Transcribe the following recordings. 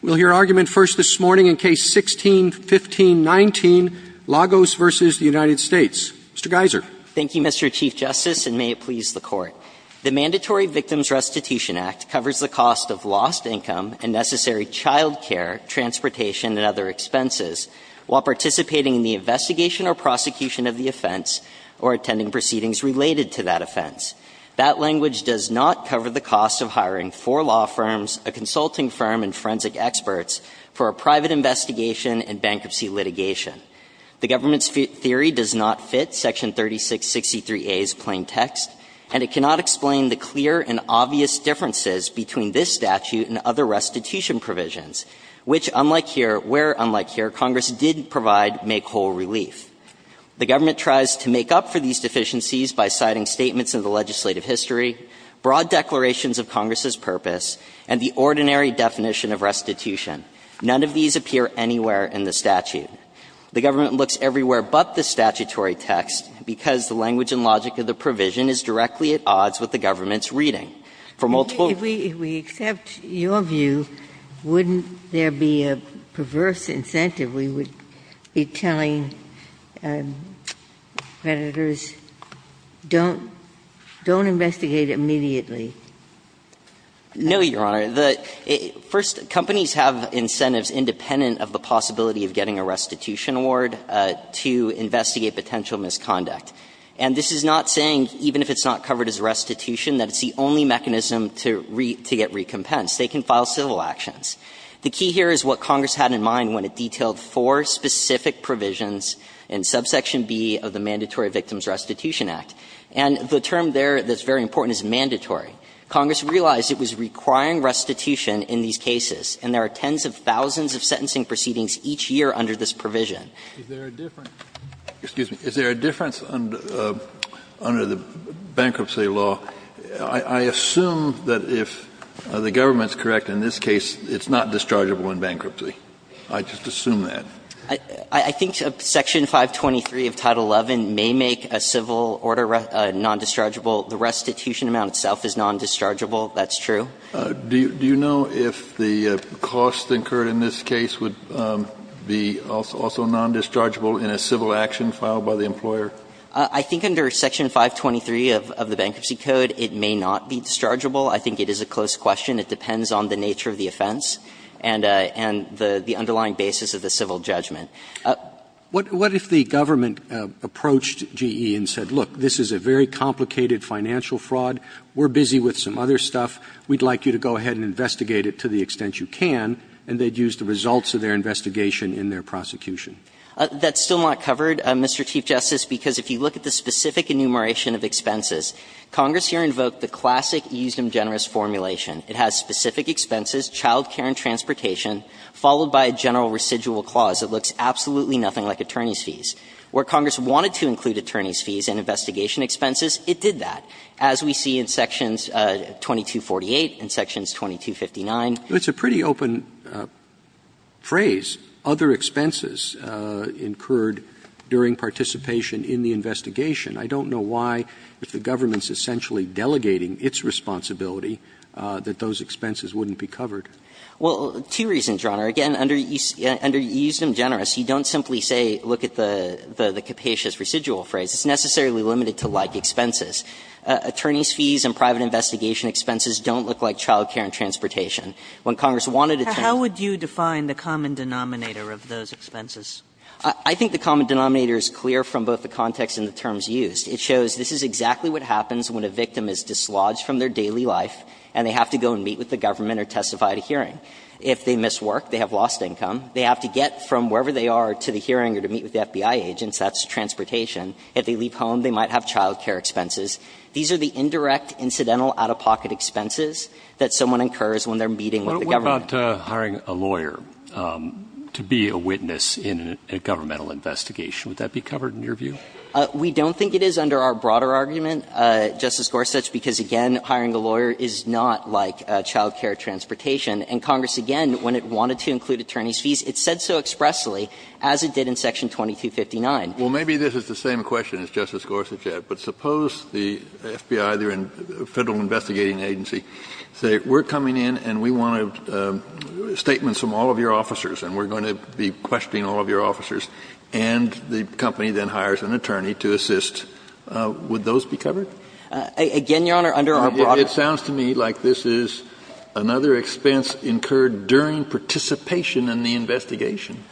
We'll hear argument first this morning in Case 16-15-19, Lagos v. United States. Mr. Geiser. Thank you, Mr. Chief Justice, and may it please the Court. The Mandatory Victims Restitution Act covers the cost of lost income and necessary child care, transportation, and other expenses while participating in the investigation or prosecution of the offense or attending proceedings related to that offense. That language does not cover the cost of hiring four law firms, a consulting firm, and forensic experts for a private investigation and bankruptcy litigation. The government's theory does not fit Section 3663a's plain text, and it cannot explain the clear and obvious differences between this statute and other restitution provisions, which, unlike here – where, unlike here, Congress did provide make-whole relief. The government tries to make up for these deficiencies by citing statements in the legislative history, broad declarations of Congress's purpose, and the ordinary definition of restitution. None of these appear anywhere in the statute. The government looks everywhere but the statutory text because the language and logic of the provision is directly at odds with the government's reading. For multiple – Ginsburg. If we accept your view, wouldn't there be a perverse incentive? We would be telling creditors, don't – don't investigate immediately. No, Your Honor. First, companies have incentives independent of the possibility of getting a restitution award to investigate potential misconduct. And this is not saying, even if it's not covered as restitution, that it's the only mechanism to get recompensed. They can file civil actions. The key here is what Congress had in mind when it detailed four specific provisions in subsection B of the Mandatory Victims Restitution Act. And the term there that's very important is mandatory. Congress realized it was requiring restitution in these cases, and there are tens of thousands of sentencing proceedings each year under this provision. Kennedy. Is there a difference under the bankruptcy law? I assume that if the government's correct in this case, it's not dischargeable in bankruptcy. I just assume that. I think Section 523 of Title XI may make a civil order non-dischargeable. The restitution amount itself is non-dischargeable. That's true. Do you know if the cost incurred in this case would be also non-dischargeable in a civil action filed by the employer? I think under Section 523 of the Bankruptcy Code, it may not be dischargeable. I think it is a close question. It depends on the nature of the offense and the underlying basis of the civil judgment. What if the government approached GE and said, look, this is a very complicated financial fraud, we're busy with some other stuff, we'd like you to go ahead and investigate it to the extent you can, and they'd use the results of their investigation in their prosecution? That's still not covered, Mr. Chief Justice, because if you look at the specific enumeration of expenses, Congress here invoked the classic Euston-Generis formulation. It has specific expenses, child care and transportation, followed by a general residual clause that looks absolutely nothing like attorney's fees. Where Congress wanted to include attorney's fees in investigation expenses, it did that, as we see in Sections 2248 and Sections 2259. Roberts. It's a pretty open phrase, other expenses incurred during participation in the investigation. I don't know why, if the government's essentially delegating its responsibility, Well, two reasons, Your Honor. Again, under Euston-Generis, you don't simply say, look at the capacious residual phrase. It's necessarily limited to like expenses. Attorney's fees and private investigation expenses don't look like child care and transportation. When Congress wanted attorney's fees. How would you define the common denominator of those expenses? I think the common denominator is clear from both the context and the terms used. It shows this is exactly what happens when a victim is dislodged from their daily life and they have to go and meet with the government or testify at a hearing. If they miss work, they have lost income. They have to get from wherever they are to the hearing or to meet with the FBI agents. That's transportation. If they leave home, they might have child care expenses. These are the indirect, incidental, out-of-pocket expenses that someone incurs when they're meeting with the government. What about hiring a lawyer to be a witness in a governmental investigation? Would that be covered in your view? We don't think it is under our broader argument, Justice Gorsuch, because, again, hiring a lawyer is not like child care or transportation. And Congress, again, when it wanted to include attorney's fees, it said so expressly as it did in Section 2259. Well, maybe this is the same question as Justice Gorsuch had. But suppose the FBI, the Federal Investigating Agency, say we're coming in and we want statements from all of your officers and we're going to be questioning all of your officers, and the company then hires an attorney to assist. Would those be covered? Again, Your Honor, under our broader argument. Kennedy, it sounds to me like this is another expense incurred during participation in the investigation.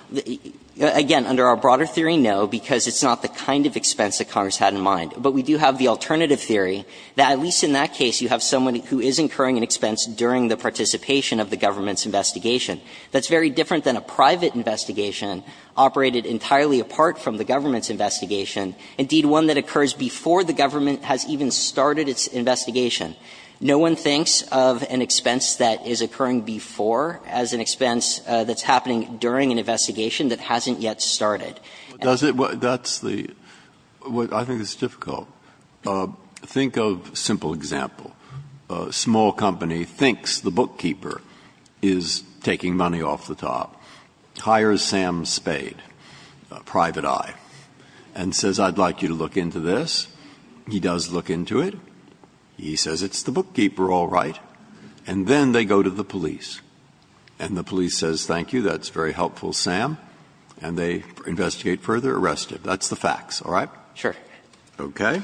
Again, under our broader theory, no, because it's not the kind of expense that Congress had in mind. But we do have the alternative theory that at least in that case you have someone who is incurring an expense during the participation of the government's investigation. That's very different than a private investigation operated entirely apart from the government's investigation, indeed one that occurs before the government has even started its investigation. No one thinks of an expense that is occurring before as an expense that's happening during an investigation that hasn't yet started. Breyer, that's the – I think it's difficult. Think of a simple example. A small company thinks the bookkeeper is taking money off the top, hires Sam Spade, a private eye, and says I'd like you to look into this. He does look into it. He says it's the bookkeeper, all right. And then they go to the police. And the police says thank you, that's very helpful, Sam. And they investigate further, arrest him. That's the facts, all right? Sure. Okay?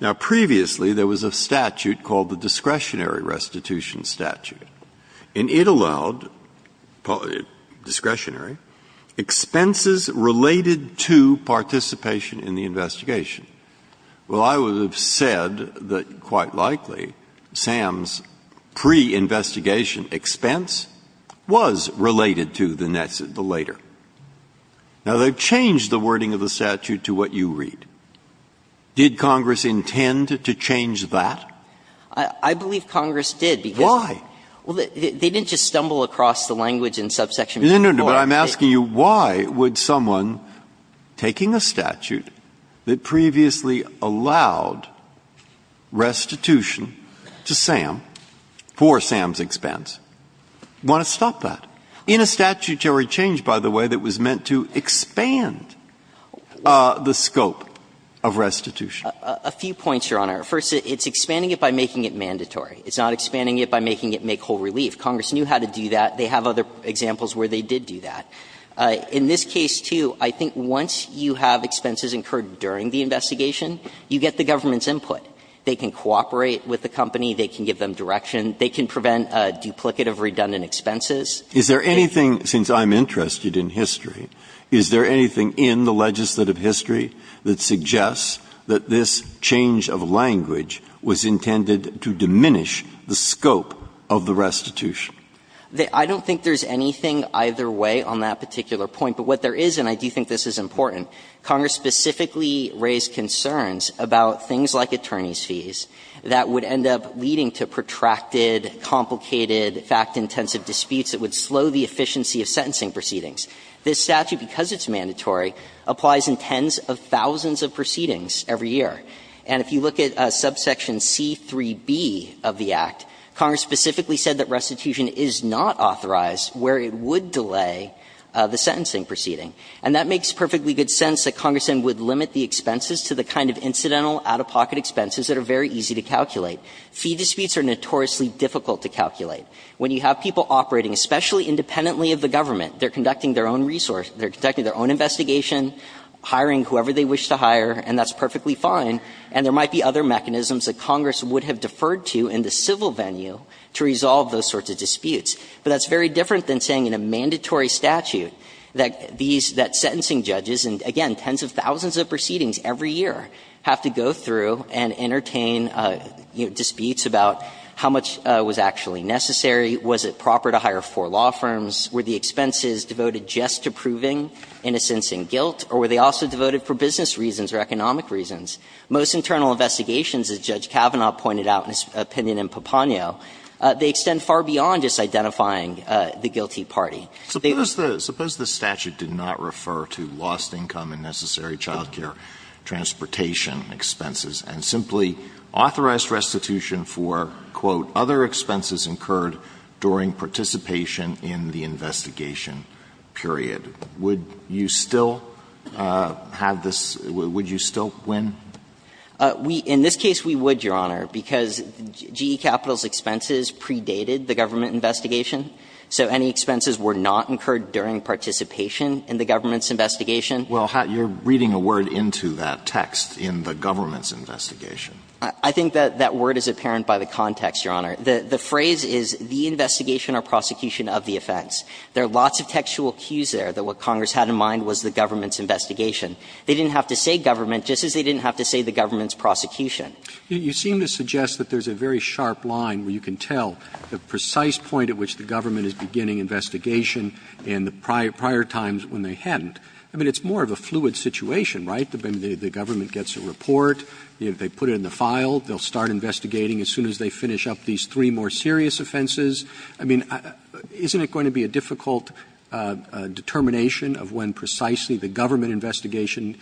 Now, previously there was a statute called the discretionary restitution statute. And it allowed discretionary expenses related to participation in the investigation. Well, I would have said that quite likely Sam's pre-investigation expense was related to the later. Now, they've changed the wording of the statute to what you read. Did Congress intend to change that? I believe Congress did, because they didn't just stumble across the language in subsection No, no, no, but I'm asking you, why would someone taking a statute that previously allowed restitution to Sam for Sam's expense want to stop that in a statutory change, by the way, that was meant to expand the scope of restitution? A few points, Your Honor. First, it's expanding it by making it mandatory. It's not expanding it by making it make whole relief. Congress knew how to do that. They have other examples where they did do that. In this case, too, I think once you have expenses incurred during the investigation, you get the government's input. They can cooperate with the company. They can give them direction. They can prevent a duplicate of redundant expenses. Is there anything, since I'm interested in history, is there anything in the legislative history that suggests that this change of language was intended to diminish the scope of the restitution? I don't think there's anything either way on that particular point. But what there is, and I do think this is important, Congress specifically raised concerns about things like attorney's fees that would end up leading to protracted, complicated, fact-intensive disputes that would slow the efficiency of sentencing proceedings. This statute, because it's mandatory, applies in tens of thousands of proceedings every year. And if you look at subsection C-3b of the Act, Congress specifically said that restitution is not authorized where it would delay the sentencing proceeding. And that makes perfectly good sense, that Congress then would limit the expenses to the kind of incidental, out-of-pocket expenses that are very easy to calculate. Fee disputes are notoriously difficult to calculate. When you have people operating, especially independently of the government, they're conducting their own research, they're conducting their own investigation, hiring whoever they wish to hire, and that's perfectly fine, and there might be other mechanisms that Congress would have deferred to in the civil venue to resolve those sorts of disputes. But that's very different than saying in a mandatory statute that these – that sentencing judges, and again, tens of thousands of proceedings every year have to go through and entertain, you know, disputes about how much was actually necessary, was it proper to hire four law firms, were the expenses devoted just to proving innocence and guilt, or were they also devoted for business reasons or economic reasons? Most internal investigations, as Judge Kavanaugh pointed out in his opinion in Papanio, they extend far beyond just identifying the guilty party. Alitosovich. Suppose the statute did not refer to lost income and necessary child care transportation expenses and simply authorized restitution for, quote, other expenses incurred during participation in the investigation period. Would you still have this – would you still win? We – in this case, we would, Your Honor, because GE Capital's expenses predated the government investigation, so any expenses were not incurred during participation in the government's investigation. Well, you're reading a word into that text in the government's investigation. I think that that word is apparent by the context, Your Honor. The phrase is the investigation or prosecution of the offense. There are lots of textual cues there that what Congress had in mind was the government's investigation. They didn't have to say government just as they didn't have to say the government's prosecution. You seem to suggest that there's a very sharp line where you can tell the precise point at which the government is beginning investigation and the prior times when they hadn't. I mean, it's more of a fluid situation, right? The government gets a report. They put it in the file. They'll start investigating as soon as they finish up these three more serious offenses. I mean, isn't it going to be a difficult determination of when precisely the government investigation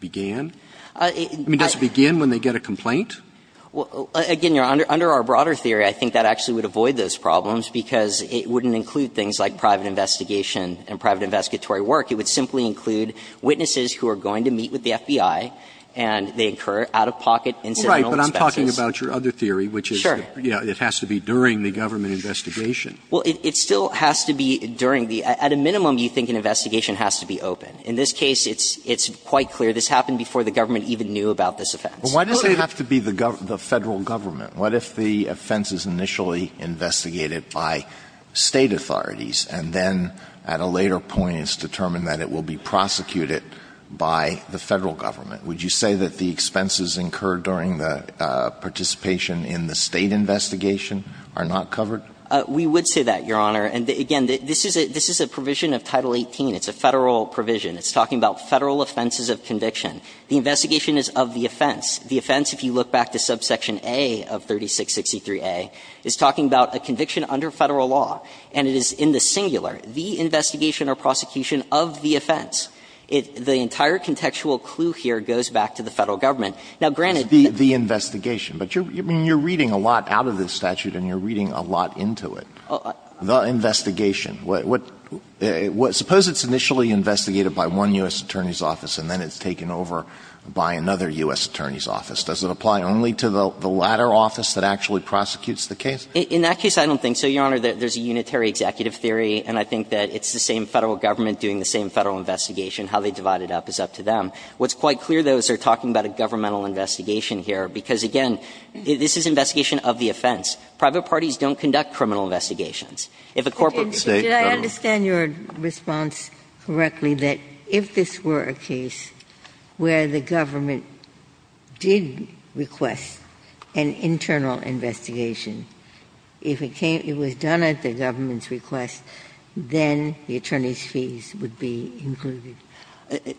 began? I mean, does it begin when they get a complaint? Well, again, Your Honor, under our broader theory, I think that actually would avoid those problems, because it wouldn't include things like private investigation and private investigatory work. It would simply include witnesses who are going to meet with the FBI, and they incur out-of-pocket incidental expenses. Right, but I'm talking about your other theory, which is it has to be during the government investigation. Well, it still has to be during the – at a minimum, you think an investigation has to be open. In this case, it's quite clear this happened before the government even knew about this offense. Well, why does it have to be the federal government? What if the offense is initially investigated by State authorities, and then at a later point it's determined that it will be prosecuted by the Federal government? Would you say that the expenses incurred during the participation in the State investigation are not covered? We would say that, Your Honor. And again, this is a provision of Title 18. It's a Federal provision. It's talking about Federal offenses of conviction. The investigation is of the offense. The offense, if you look back to subsection A of 3663a, is talking about a conviction under Federal law, and it is in the singular, the investigation or prosecution of the offense. It – the entire contextual clue here goes back to the Federal government. Now, granted the investigation, but you're – I mean, you're reading a lot out of this statute, and you're reading a lot into it. The investigation. What – suppose it's initially investigated by one U.S. Attorney's office, and then it's taken over by another U.S. Attorney's office. Does it apply only to the latter office that actually prosecutes the case? In that case, I don't think so, Your Honor. There's a unitary executive theory, and I think that it's the same Federal government doing the same Federal investigation. How they divide it up is up to them. What's quite clear, though, is they're talking about a governmental investigation here, because, again, this is an investigation of the offense. Private parties don't conduct criminal investigations. If a corporate state government doesn't do it, then it's not a criminal investigation. Ginsburg. Did I understand your response correctly, that if this were a case where the government did request an internal investigation, if it came – it was done at the government's request, then the attorney's fees would be included?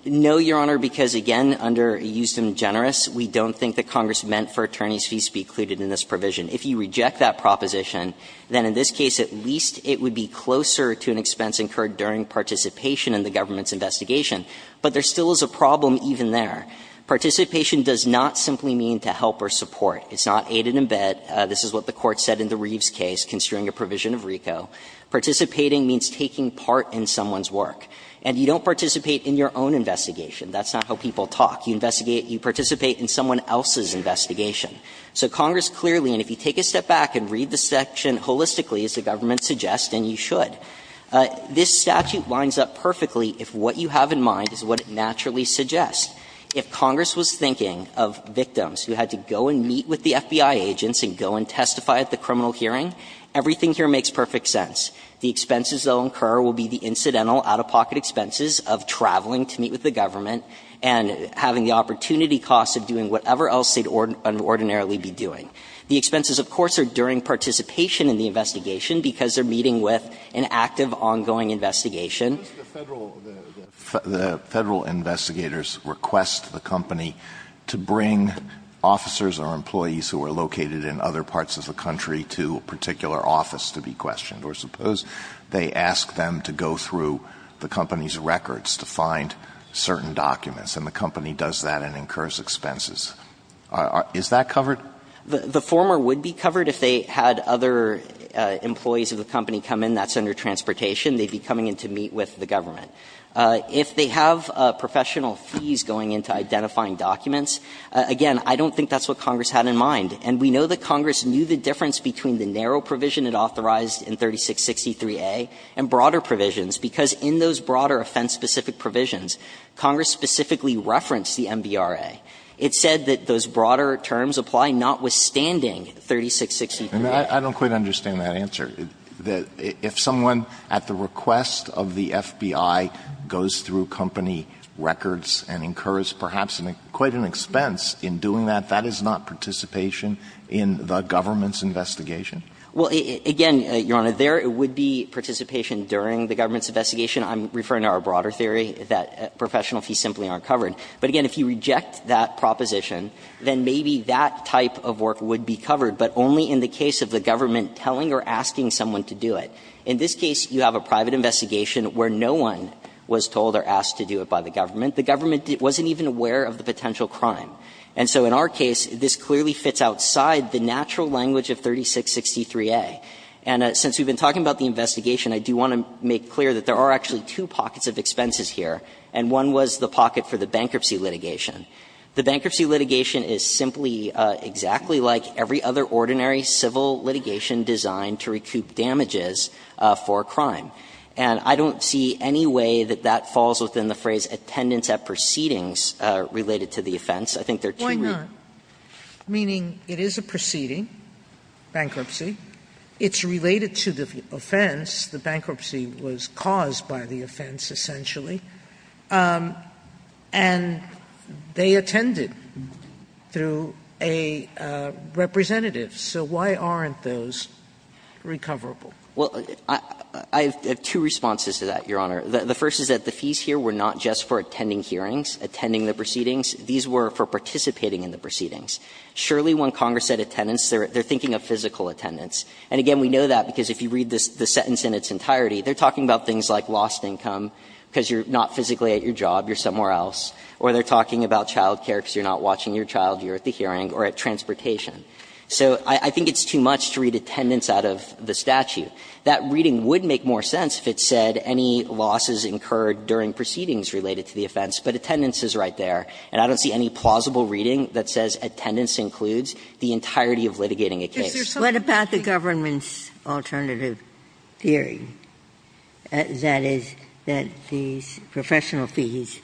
No, Your Honor, because, again, under Euston Generous, we don't think that Congress meant for attorney's fees to be included in this provision. If you reject that proposition, then in this case at least it would be closer to an expense incurred during participation in the government's investigation. But there still is a problem even there. Participation does not simply mean to help or support. It's not aid and abet. This is what the Court said in the Reeves case, considering a provision of RICO. Participating means taking part in someone's work. And you don't participate in your own investigation. That's not how people talk. You investigate – you participate in someone else's investigation. So Congress clearly – and if you take a step back and read the section holistically, as the government suggests, and you should, this statute lines up perfectly if what you have in mind is what it naturally suggests. If Congress was thinking of victims who had to go and meet with the FBI agents and go and testify at the criminal hearing, everything here makes perfect sense. The expenses they'll incur will be the incidental out-of-pocket expenses of traveling to meet with the government and having the opportunity costs of doing whatever else they'd ordinarily be doing. The expenses, of course, are during participation in the investigation because they're meeting with an active, ongoing investigation. Alitoso, the Federal – the Federal investigators request the company to bring officers or employees who are located in other parts of the country to a particular office to be questioned, or suppose they ask them to go through the company's records to find certain documents, and the company does that and incurs expenses. Is that covered? The former would be covered if they had other employees of the company come in that's under transportation. They'd be coming in to meet with the government. If they have professional fees going into identifying documents, again, I don't think that's what Congress had in mind. And we know that Congress knew the difference between the narrow provision it authorized in 3663a and broader provisions, because in those broader offense-specific provisions, Congress specifically referenced the MBRA. It said that those broader terms apply notwithstanding 3663a. And I don't quite understand that answer, that if someone, at the request of the FBI, goes through company records and incurs perhaps quite an expense in doing that, that is not participation in the government's investigation. Well, again, Your Honor, there would be participation during the government's investigation. I'm referring to our broader theory that professional fees simply aren't covered. But again, if you reject that proposition, then maybe that type of work would be covered, but only in the case of the government telling or asking someone to do it. In this case, you have a private investigation where no one was told or asked to do it by the government. The government wasn't even aware of the potential crime. And so in our case, this clearly fits outside the natural language of 3663a. And since we've been talking about the investigation, I do want to make clear that there are actually two pockets of expenses here. And one was the pocket for the bankruptcy litigation. The bankruptcy litigation is simply exactly like every other ordinary civil litigation designed to recoup damages for a crime. And I don't see any way that that falls within the phrase, attendance at proceedings related to the offense. I think they're too weak. Sotomayor, meaning it is a proceeding, bankruptcy. It's related to the offense. The bankruptcy was caused by the offense, essentially. And they attended through a representative. So why aren't those recoverable? Well, I have two responses to that, Your Honor. The first is that the fees here were not just for attending hearings, attending the proceedings. These were for participating in the proceedings. Surely when Congress said attendance, they're thinking of physical attendance. And again, we know that because if you read the sentence in its entirety, they're talking about things like lost income because you're not physically at your job, you're somewhere else, or they're talking about child care because you're not watching your child, you're at the hearing, or at transportation. So I think it's too much to read attendance out of the statute. That reading would make more sense if it said any losses incurred during proceedings related to the offense, but attendance is right there. And I don't see any plausible reading that says attendance includes the entirety of litigating a case. Ginsburg. What about the government's alternative hearing, that is, that these professional fees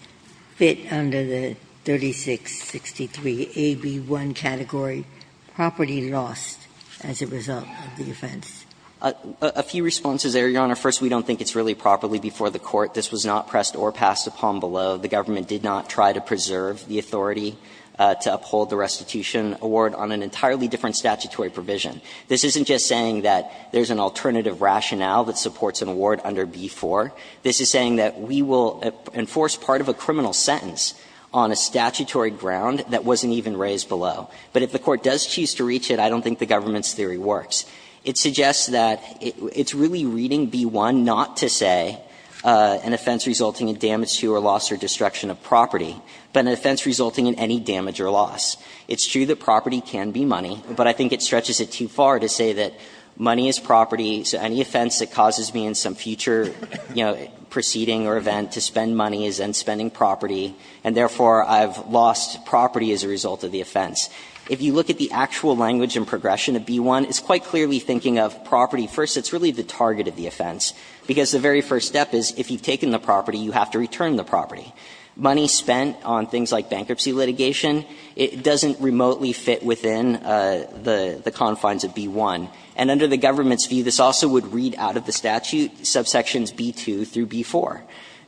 fit under the 3663AB1 category, property lost as a result of the offense? A few responses there, Your Honor. First, we don't think it's really properly before the Court. This was not pressed or passed upon below. The government did not try to preserve the authority to uphold the restitution award on an entirely different statutory provision. This isn't just saying that there's an alternative rationale that supports an award under B-4. This is saying that we will enforce part of a criminal sentence on a statutory ground that wasn't even raised below. But if the Court does choose to reach it, I don't think the government's theory works. It suggests that it's really reading B-1 not to say an offense resulting in damage to or loss or destruction of property, but an offense resulting in any damage or loss. It's true that property can be money, but I think it stretches it too far to say that money is property, so any offense that causes me in some future, you know, proceeding or event to spend money is then spending property, and therefore, I've lost property as a result of the offense. If you look at the actual language and progression of B-1, it's quite clearly thinking of property first. It's really the target of the offense, because the very first step is if you've taken the property, you have to return the property. Money spent on things like bankruptcy litigation, it doesn't remotely fit within the confines of B-1. And under the government's view, this also would read out of the statute subsections B-2 through B-4,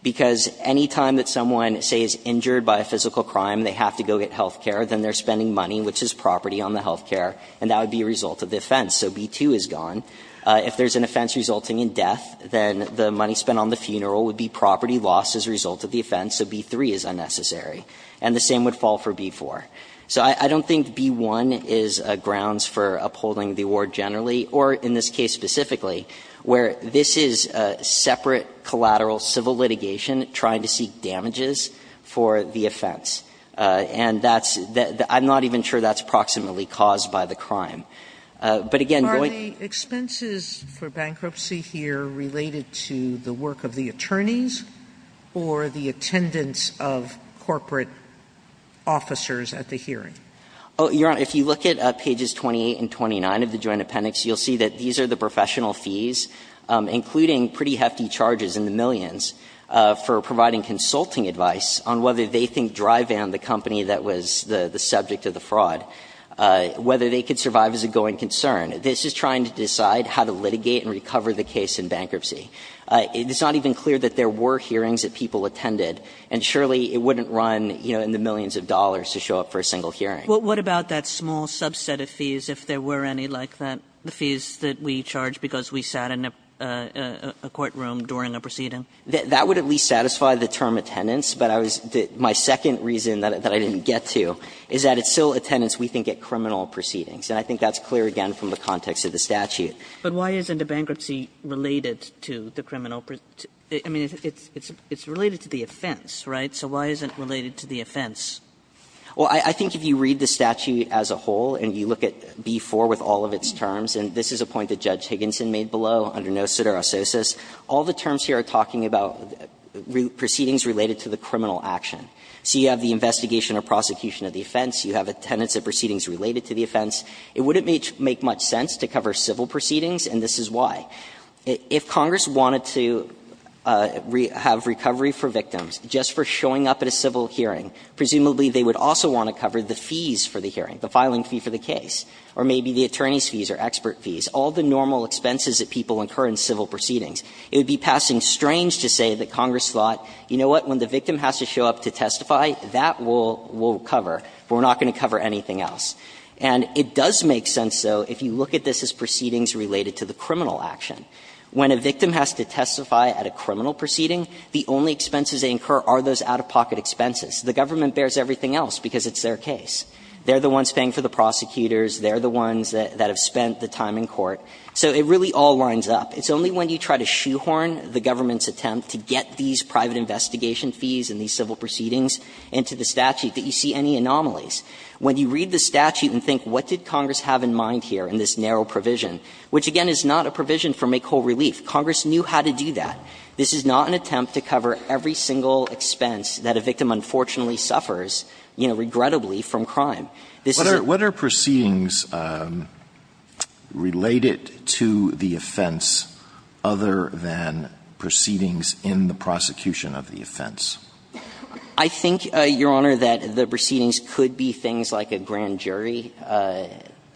because any time that someone, say, is injured by a physical crime, they have to go get health care, then they're spending money, which is property on the health care, and that would be a result of the offense, so B-2 is gone. If there's an offense resulting in death, then the money spent on the funeral would be property lost as a result of the offense, so B-3 is unnecessary. And the same would fall for B-4. So I don't think B-1 is grounds for upholding the award generally, or in this case specifically, where this is separate collateral civil litigation trying to seek damages for the offense. And that's the – I'm not even sure that's approximately caused by the crime. Sotomayor, are the offenses for bankruptcy here related to the work of the attorneys or the attendance of corporate officers at the hearing? Oh, Your Honor, if you look at pages 28 and 29 of the Joint Appendix, you'll see that these are the professional fees, including pretty hefty charges in the millions for providing consulting advice on whether they think dry van, the company that was the subject of the fraud, whether they could survive as a going concern. This is trying to decide how to litigate and recover the case in bankruptcy. It's not even clear that there were hearings that people attended, and surely it wouldn't run, you know, in the millions of dollars to show up for a single hearing. What about that small subset of fees, if there were any like that, the fees that we charge because we sat in a courtroom during a proceeding? That would at least satisfy the term attendance, but I was – my second reason that I didn't get to is that it's still attendance, we think, at criminal proceedings. And I think that's clear, again, from the context of the statute. But why isn't a bankruptcy related to the criminal – I mean, it's related to the offense, right? So why isn't it related to the offense? Well, I think if you read the statute as a whole and you look at B-4 with all of its terms, and this is a point that Judge Higginson made below under no cetera saucis, all the terms here are talking about proceedings related to the criminal action. So you have the investigation or prosecution of the offense, you have attendance at proceedings related to the offense. It wouldn't make much sense to cover civil proceedings, and this is why. If Congress wanted to have recovery for victims just for showing up at a civil hearing, presumably they would also want to cover the fees for the hearing, the filing fee for the case, or maybe the attorney's fees or expert fees, all the normal expenses that people incur in civil proceedings. It would be passing strange to say that Congress thought, you know what, when the And it does make sense, though, if you look at this as proceedings related to the criminal action. When a victim has to testify at a criminal proceeding, the only expenses they incur are those out-of-pocket expenses. The government bears everything else because it's their case. They're the ones paying for the prosecutors. They're the ones that have spent the time in court. So it really all lines up. It's only when you try to shoehorn the government's attempt to get these private investigation fees and these civil proceedings into the statute that you see any anomalies. When you read the statute and think, what did Congress have in mind here in this narrow provision, which, again, is not a provision for make-whole-relief, Congress knew how to do that. This is not an attempt to cover every single expense that a victim unfortunately suffers, you know, regrettably, from crime. This is a What are proceedings related to the offense other than proceedings in the prosecution of the offense? I think, Your Honor, that the proceedings could be things like a grand jury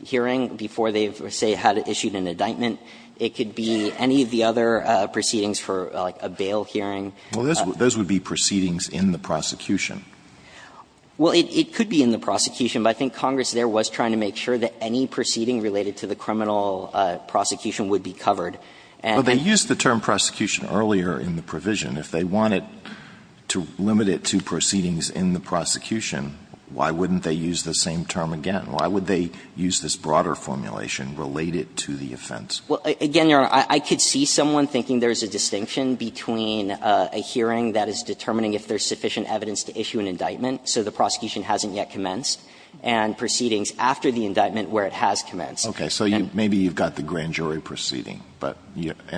hearing before they, say, had issued an indictment. It could be any of the other proceedings for, like, a bail hearing. Well, those would be proceedings in the prosecution. Well, it could be in the prosecution, but I think Congress there was trying to make sure that any proceeding related to the criminal prosecution would be covered. Well, they used the term prosecution earlier in the provision. If they wanted to limit it to proceedings in the prosecution, why wouldn't they use the same term again? Why would they use this broader formulation related to the offense? Well, again, Your Honor, I could see someone thinking there's a distinction between a hearing that is determining if there's sufficient evidence to issue an indictment, so the prosecution hasn't yet commenced, and proceedings after the indictment where it has commenced. Okay. So maybe you've got the grand jury proceeding, but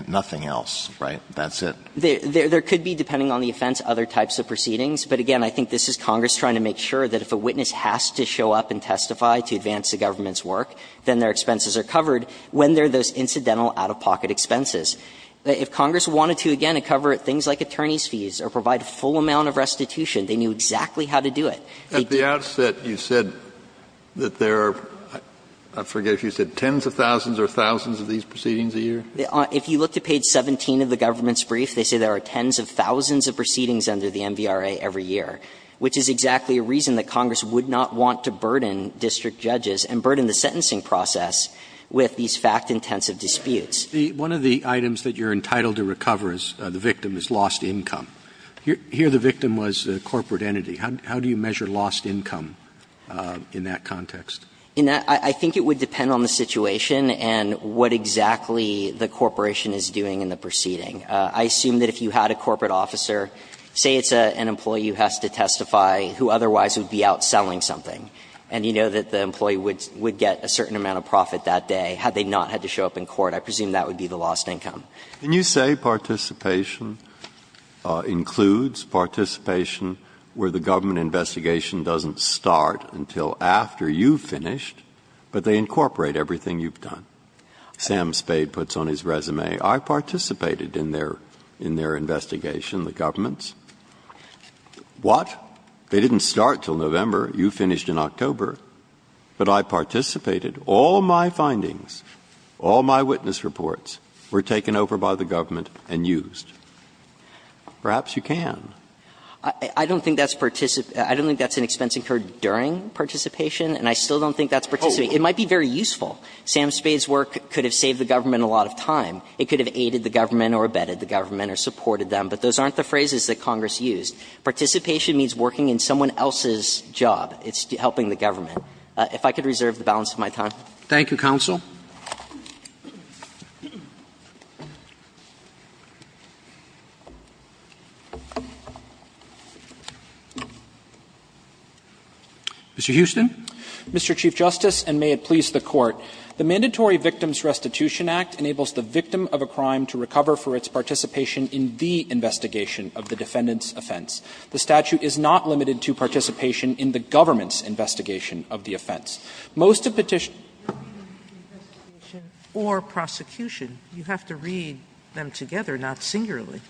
nothing else, right? That's it. There could be, depending on the offense, other types of proceedings, but again, I think this is Congress trying to make sure that if a witness has to show up and testify to advance the government's work, then their expenses are covered when there are those incidental out-of-pocket expenses. If Congress wanted to, again, cover things like attorney's fees or provide a full amount of restitution, they knew exactly how to do it. They did. Kennedy, at the outset, you said that there are, I forget if you said tens of thousands or thousands of these proceedings a year? If you look to page 17 of the government's brief, they say there are tens of thousands of proceedings under the MVRA every year, which is exactly a reason that Congress would not want to burden district judges and burden the sentencing process with these fact-intensive disputes. One of the items that you're entitled to recover as the victim is lost income. Here the victim was a corporate entity. How do you measure lost income in that context? I think it would depend on the situation and what exactly the corporation is doing in the proceeding. I assume that if you had a corporate officer, say it's an employee who has to testify, who otherwise would be out selling something, and you know that the employee would get a certain amount of profit that day had they not had to show up in court, I presume that would be the lost income. Can you say participation includes participation where the government investigation doesn't start until after you've finished, but they incorporate everything you've done? Sam Spade puts on his resume, I participated in their investigation, the government's. What? They didn't start until November, you finished in October, but I participated. All my findings, all my witness reports were taken over by the government and used. Perhaps you can. I don't think that's an expense incurred during participation, and I still don't think that's participation. It might be very useful. Sam Spade's work could have saved the government a lot of time. It could have aided the government or abetted the government or supported them. But those aren't the phrases that Congress used. Participation means working in someone else's job. It's helping the government. If I could reserve the balance of my time. Roberts. Thank you, counsel. Mr. Huston. Mr. Chief Justice, and may it please the Court. The Mandatory Victims Restitution Act enables the victim of a crime to recover for its participation in the investigation of the defendant's offense. The statute is not limited to participation in the government's investigation of the offense. Most of petition or prosecution, you have to read them together, not singularly.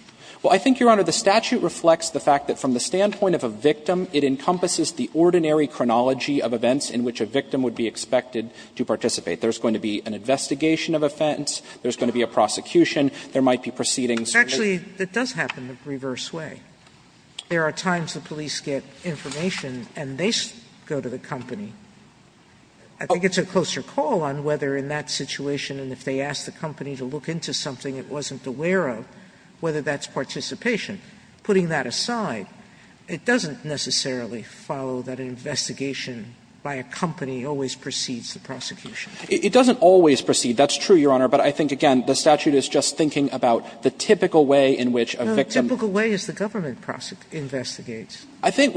Well, I think, Your Honor, the statute reflects the fact that from the standpoint of a victim, it encompasses the ordinary chronology of events in which a victim would be expected to participate. There's going to be an investigation of offense, there's going to be a prosecution, there might be proceedings. Actually, it does happen the reverse way. There are times the police get information and they go to the company. I think it's a closer call on whether in that situation, and if they ask the company to look into something it wasn't aware of, whether that's participation. Putting that aside, it doesn't necessarily follow that an investigation by a company always precedes the prosecution. It doesn't always precede. That's true, Your Honor, but I think, again, the statute is just thinking about the typical way in which a victim. No, the typical way is the government investigates. I think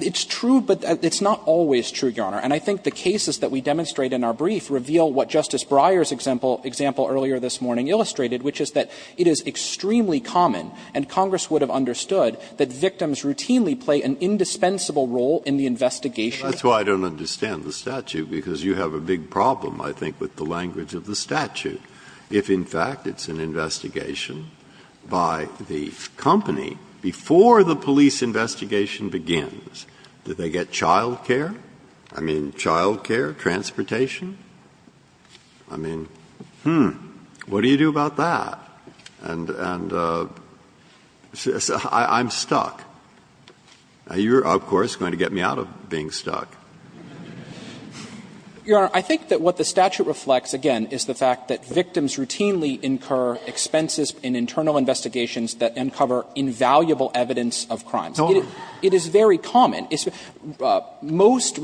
it's true, but it's not always true, Your Honor. And I think the cases that we demonstrate in our brief reveal what Justice Breyer's example earlier this morning illustrated, which is that it is extremely common, and Congress would have understood, that victims routinely play an indispensable role in the investigation. Breyer's example earlier this morning illustrated, which is that it is extremely common, and Congress would have understood, that victims routinely play an indispensable role in the investigation. If a company, before the police investigation begins, do they get child care? I mean, child care, transportation? I mean, hmm, what do you do about that? And I'm stuck. You're, of course, going to get me out of being stuck. You know, I think that what the statute reflects, again, is the fact that victims routinely incur expenses in internal investigations that uncover invaluable evidence of crimes. It is very common. Most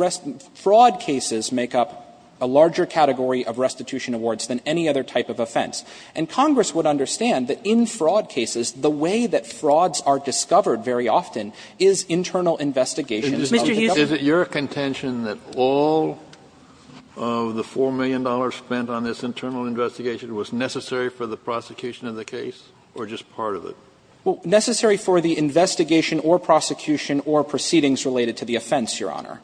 fraud cases make up a larger category of restitution awards than any other type of offense. And Congress would understand that in fraud cases, the way that frauds are discovered very often is internal investigations of the government. Kennedy, is it your contention that all of the $4 million spent on this internal investigation was necessary for the prosecution of the case, or just part of it? Necessary for the investigation or prosecution or proceedings related to the offense, Your Honor.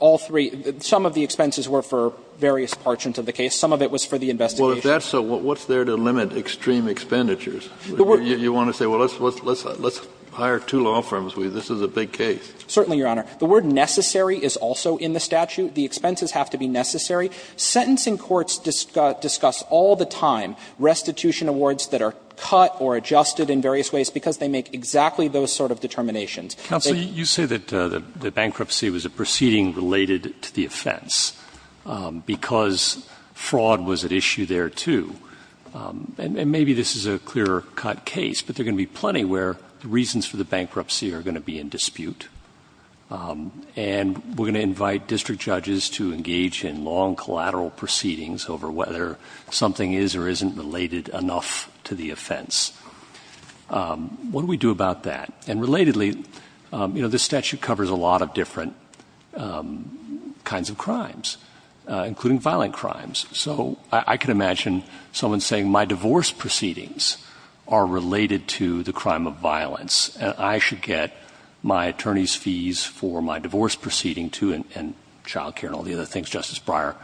All three – some of the expenses were for various parchments of the case. Some of it was for the investigation. Well, if that's so, what's there to limit extreme expenditures? You want to say, well, let's hire two law firms. This is a big case. Certainly, Your Honor. The word necessary is also in the statute. The expenses have to be necessary. Sentencing courts discuss all the time restitution awards that are cut or adjusted in various ways because they make exactly those sort of determinations. They – Counsel, you say that the bankruptcy was a proceeding related to the offense because fraud was at issue there, too. And maybe this is a clear-cut case, but there are going to be plenty where the reasons for the bankruptcy are going to be in dispute. And we're going to invite district judges to engage in long collateral proceedings over whether something is or isn't related enough to the offense. What do we do about that? And relatedly, you know, this statute covers a lot of different kinds of crimes, including violent crimes. So I can imagine someone saying, my divorce proceedings are related to the crime of violence. I should get my attorney's fees for my divorce proceeding, too, and child care and all the other things Justice Breyer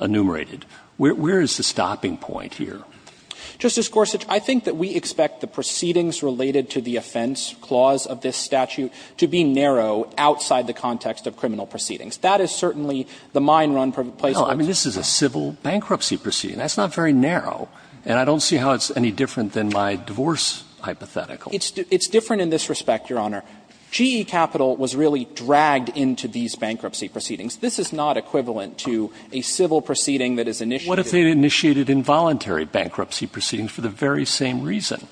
enumerated. Where is the stopping point here? Justice Gorsuch, I think that we expect the proceedings related to the offense clause of this statute to be narrow outside the context of criminal proceedings. That is certainly the mine run place of the statute. No, I mean, this is a civil bankruptcy proceeding. That's not very narrow. And I don't see how it's any different than my divorce hypothetical. It's different in this respect, Your Honor. GE Capital was really dragged into these bankruptcy proceedings. This is not equivalent to a civil proceeding that is initiated. What if they initiated involuntary bankruptcy proceedings for the very same reason?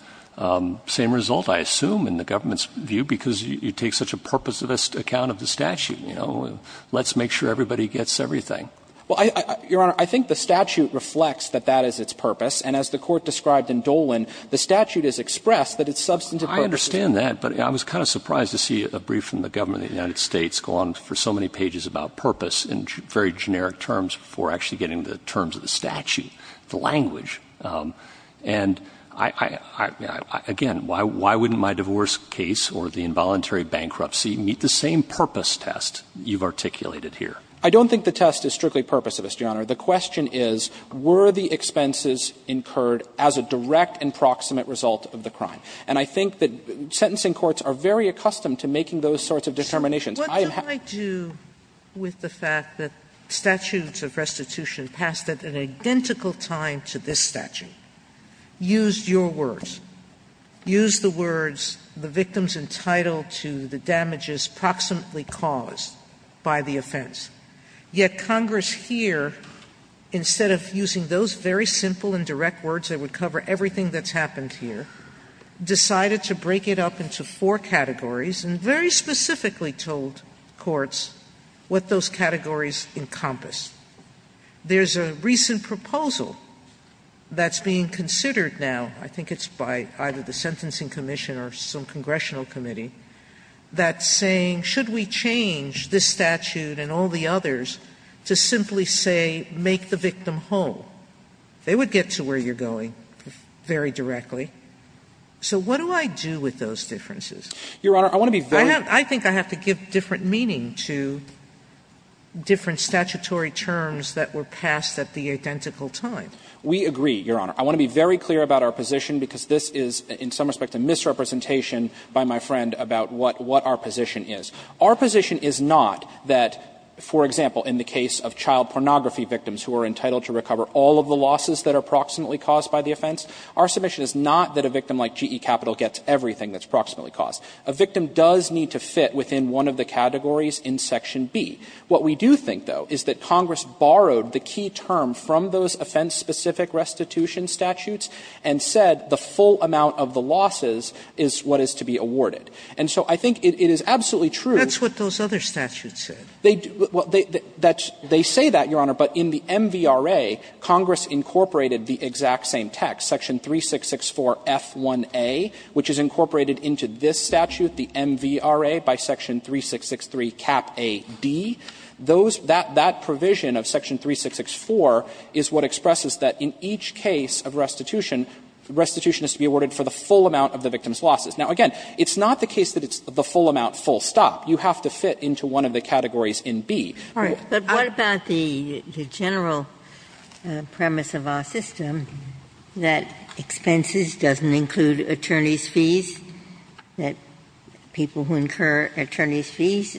Same result, I assume, in the government's view, because you take such a purposivist account of the statute, you know. Let's make sure everybody gets everything. Well, Your Honor, I think the statute reflects that that is its purpose. And as the Court described in Dolan, the statute has expressed that it's substantive purpose. I understand that, but I was kind of surprised to see a brief from the government of the United States go on for so many pages about purpose in very generic terms before actually getting to the terms of the statute, the language. And I again, why wouldn't my divorce case or the involuntary bankruptcy meet the same purpose test you've articulated here? The question is, were the expenses incurred as a direct and proximate result of the crime? And I think that sentencing courts are very accustomed to making those sorts of determinations. I have had to do with the fact that statutes of restitution passed at an identical time to this statute, used your words, used the words, the victims entitled to the damages proximately caused by the offense. Yet Congress here, instead of using those very simple and direct words that would cover everything that's happened here, decided to break it up into four categories and very specifically told courts what those categories encompass. There's a recent proposal that's being considered now. I think it's by either the Sentencing Commission or some congressional committee that's saying, should we change this statute and all the others to simply say, make the victim whole? They would get to where you're going very directly. So what do I do with those differences? I think I have to give different meaning to different statutory terms that were passed at the identical time. We agree, Your Honor. I want to be very clear about our position, because this is in some respect a misrepresentation by my friend about what our position is. Our position is not that, for example, in the case of child pornography victims who are entitled to recover all of the losses that are proximately caused by the offense, our submission is not that a victim like GE Capital gets everything that's proximately caused. A victim does need to fit within one of the categories in Section B. What we do think, though, is that Congress borrowed the key term from those offense-specific restitution statutes and said the full amount of the losses is what is to be awarded. And so I think it is absolutely true. Sotomayor, that's what those other statutes said. Well, they say that, Your Honor, but in the MVRA, Congress incorporated the exact same text, Section 3664F1A, which is incorporated into this statute, the MVRA, by Section 3663Cap A.D. Those, that provision of Section 3664 is what expresses that in each case of restitution, restitution is to be awarded for the full amount of the victim's losses. Now, again, it's not the case that it's the full amount, full stop. You have to fit into one of the categories in B. Ginsburg. But what about the general premise of our system that expenses doesn't include attorneys' fees, that people who incur attorneys' fees,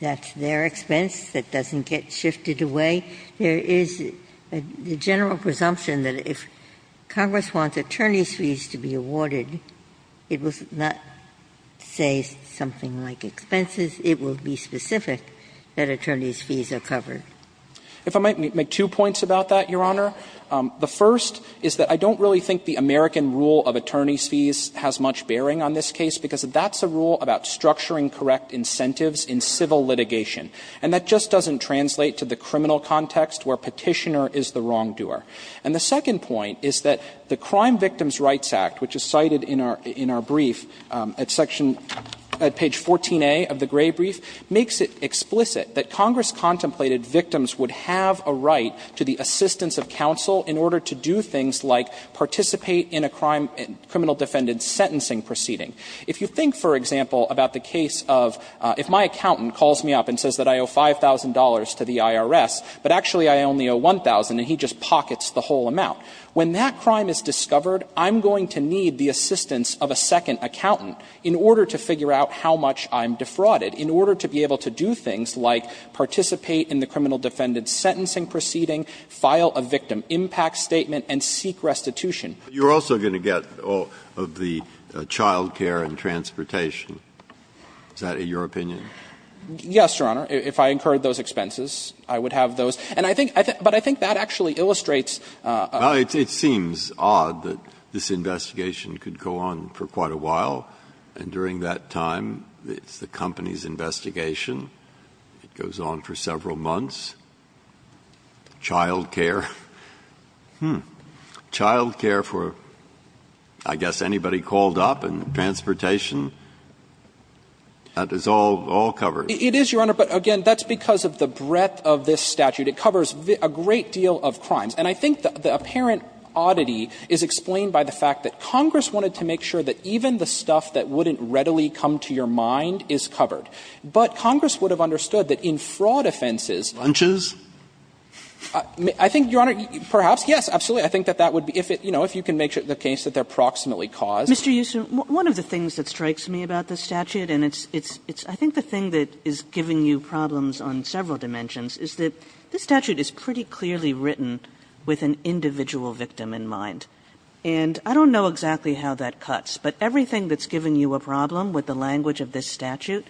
that's their expense, that doesn't get shifted away? There is the general presumption that if Congress wants attorneys' fees to be awarded, it will not say something like expenses. It will be specific that attorneys' fees are covered. If I might make two points about that, Your Honor. The first is that I don't really think the American rule of attorneys' fees has much bearing on this case, because that's a rule about structuring correct incentives in civil litigation. And that just doesn't translate to the criminal context where Petitioner is the wrongdoer. And the second point is that the Crime Victims' Rights Act, which is cited in our brief at section at page 14a of the Gray brief, makes it explicit that Congress contemplated victims would have a right to the assistance of counsel in order to do things like participate in a crime, criminal defendant sentencing proceeding. If you think, for example, about the case of if my accountant calls me up and says that I owe $5,000 to the IRS, but actually I only owe $1,000 and he just pockets the whole amount, when that crime is discovered, I'm going to need the assistance of a second accountant in order to figure out how much I'm defrauded, in order to be able to do things like participate in the criminal defendant sentencing proceeding, file a victim impact statement, and seek restitution. Breyer. You're also going to get all of the child care and transportation. Is that your opinion? Yes, Your Honor. If I incurred those expenses, I would have those. And I think that actually illustrates a – Well, it seems odd that this investigation could go on for quite a while, and during that time, it's the company's investigation, it goes on for several months, child care, child care for, I guess, anybody called up, and transportation, that is all covered. It is, Your Honor, but again, that's because of the breadth of this statute. It covers a great deal of crimes. And I think the apparent oddity is explained by the fact that Congress wanted to make sure that even the stuff that wouldn't readily come to your mind is covered. But Congress would have understood that in fraud offenses, Lunches? I think, Your Honor, perhaps, yes, absolutely. I think that that would be – if it, you know, if you can make the case that they're proximately caused. Mr. Youssouf, one of the things that strikes me about this statute, and it's – I think the thing that is giving you problems on several dimensions, is that this statute is pretty clearly written with an individual victim in mind. And I don't know exactly how that cuts, but everything that's giving you a problem with the language of this statute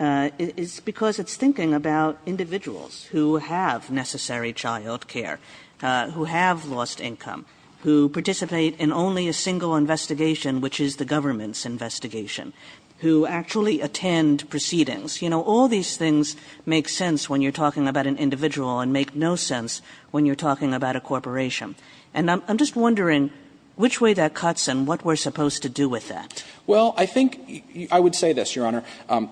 is because it's thinking about individuals who have necessary child care, who have lost income, who participate in only a single investigation, which is the government's investigation, who actually attend proceedings. You know, all these things make sense when you're talking about an individual and make no sense when you're talking about a corporation. And I'm just wondering which way that cuts and what we're supposed to do with that. Well, I think I would say this, Your Honor.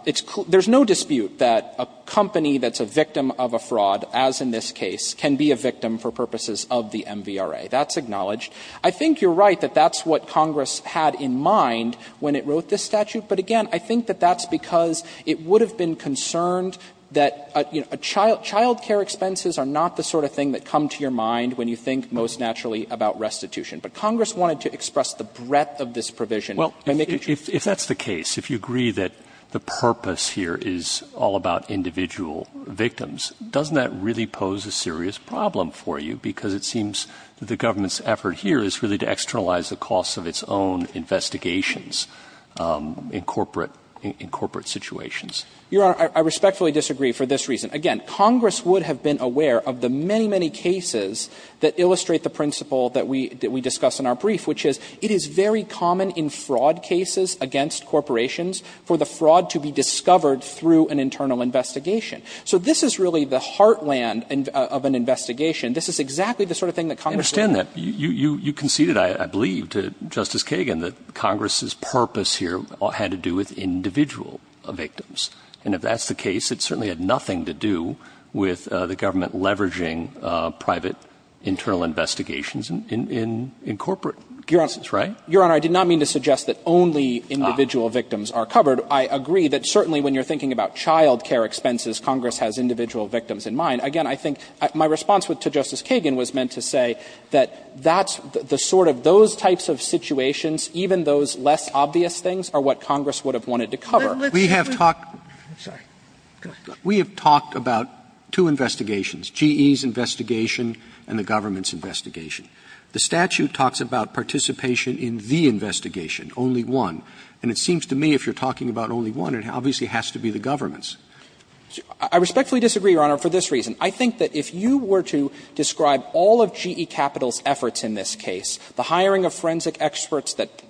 It's – there's no dispute that a company that's a victim of a fraud, as in this case, can be a victim for purposes of the MVRA. That's acknowledged. I think you're right that that's what Congress had in mind when it wrote this statute. But again, I think that that's because it would have been concerned that, you know, child care expenses are not the sort of thing that come to your mind when you think most naturally about restitution. But Congress wanted to express the breadth of this provision by making sure that it's not. The purpose here is all about individual victims. Doesn't that really pose a serious problem for you? Because it seems that the government's effort here is really to externalize the costs of its own investigations in corporate – in corporate situations. Your Honor, I respectfully disagree for this reason. Again, Congress would have been aware of the many, many cases that illustrate the principle that we – that we discuss in our brief, which is it is very common in fraud cases against corporations for the fraud to be discovered through an internal investigation. So this is really the heartland of an investigation. This is exactly the sort of thing that Congress would have been aware of. I understand that. You conceded, I believe, to Justice Kagan that Congress's purpose here had to do with individual victims. And if that's the case, it certainly had nothing to do with the government leveraging private internal investigations in corporate – in corporate cases, right? Your Honor, I did not mean to suggest that only individual victims are covered. I agree that certainly when you're thinking about child care expenses, Congress has individual victims in mind. Again, I think my response to Justice Kagan was meant to say that that's the sort of – those types of situations, even those less obvious things, are what Congress would have wanted to cover. We have talked about two investigations, GE's investigation and the government's investigation. The statute talks about participation in the investigation, only one. And it seems to me if you're talking about only one, it obviously has to be the government's. I respectfully disagree, Your Honor, for this reason. I think that if you were to describe all of GE Capital's efforts in this case, the hiring of forensic experts that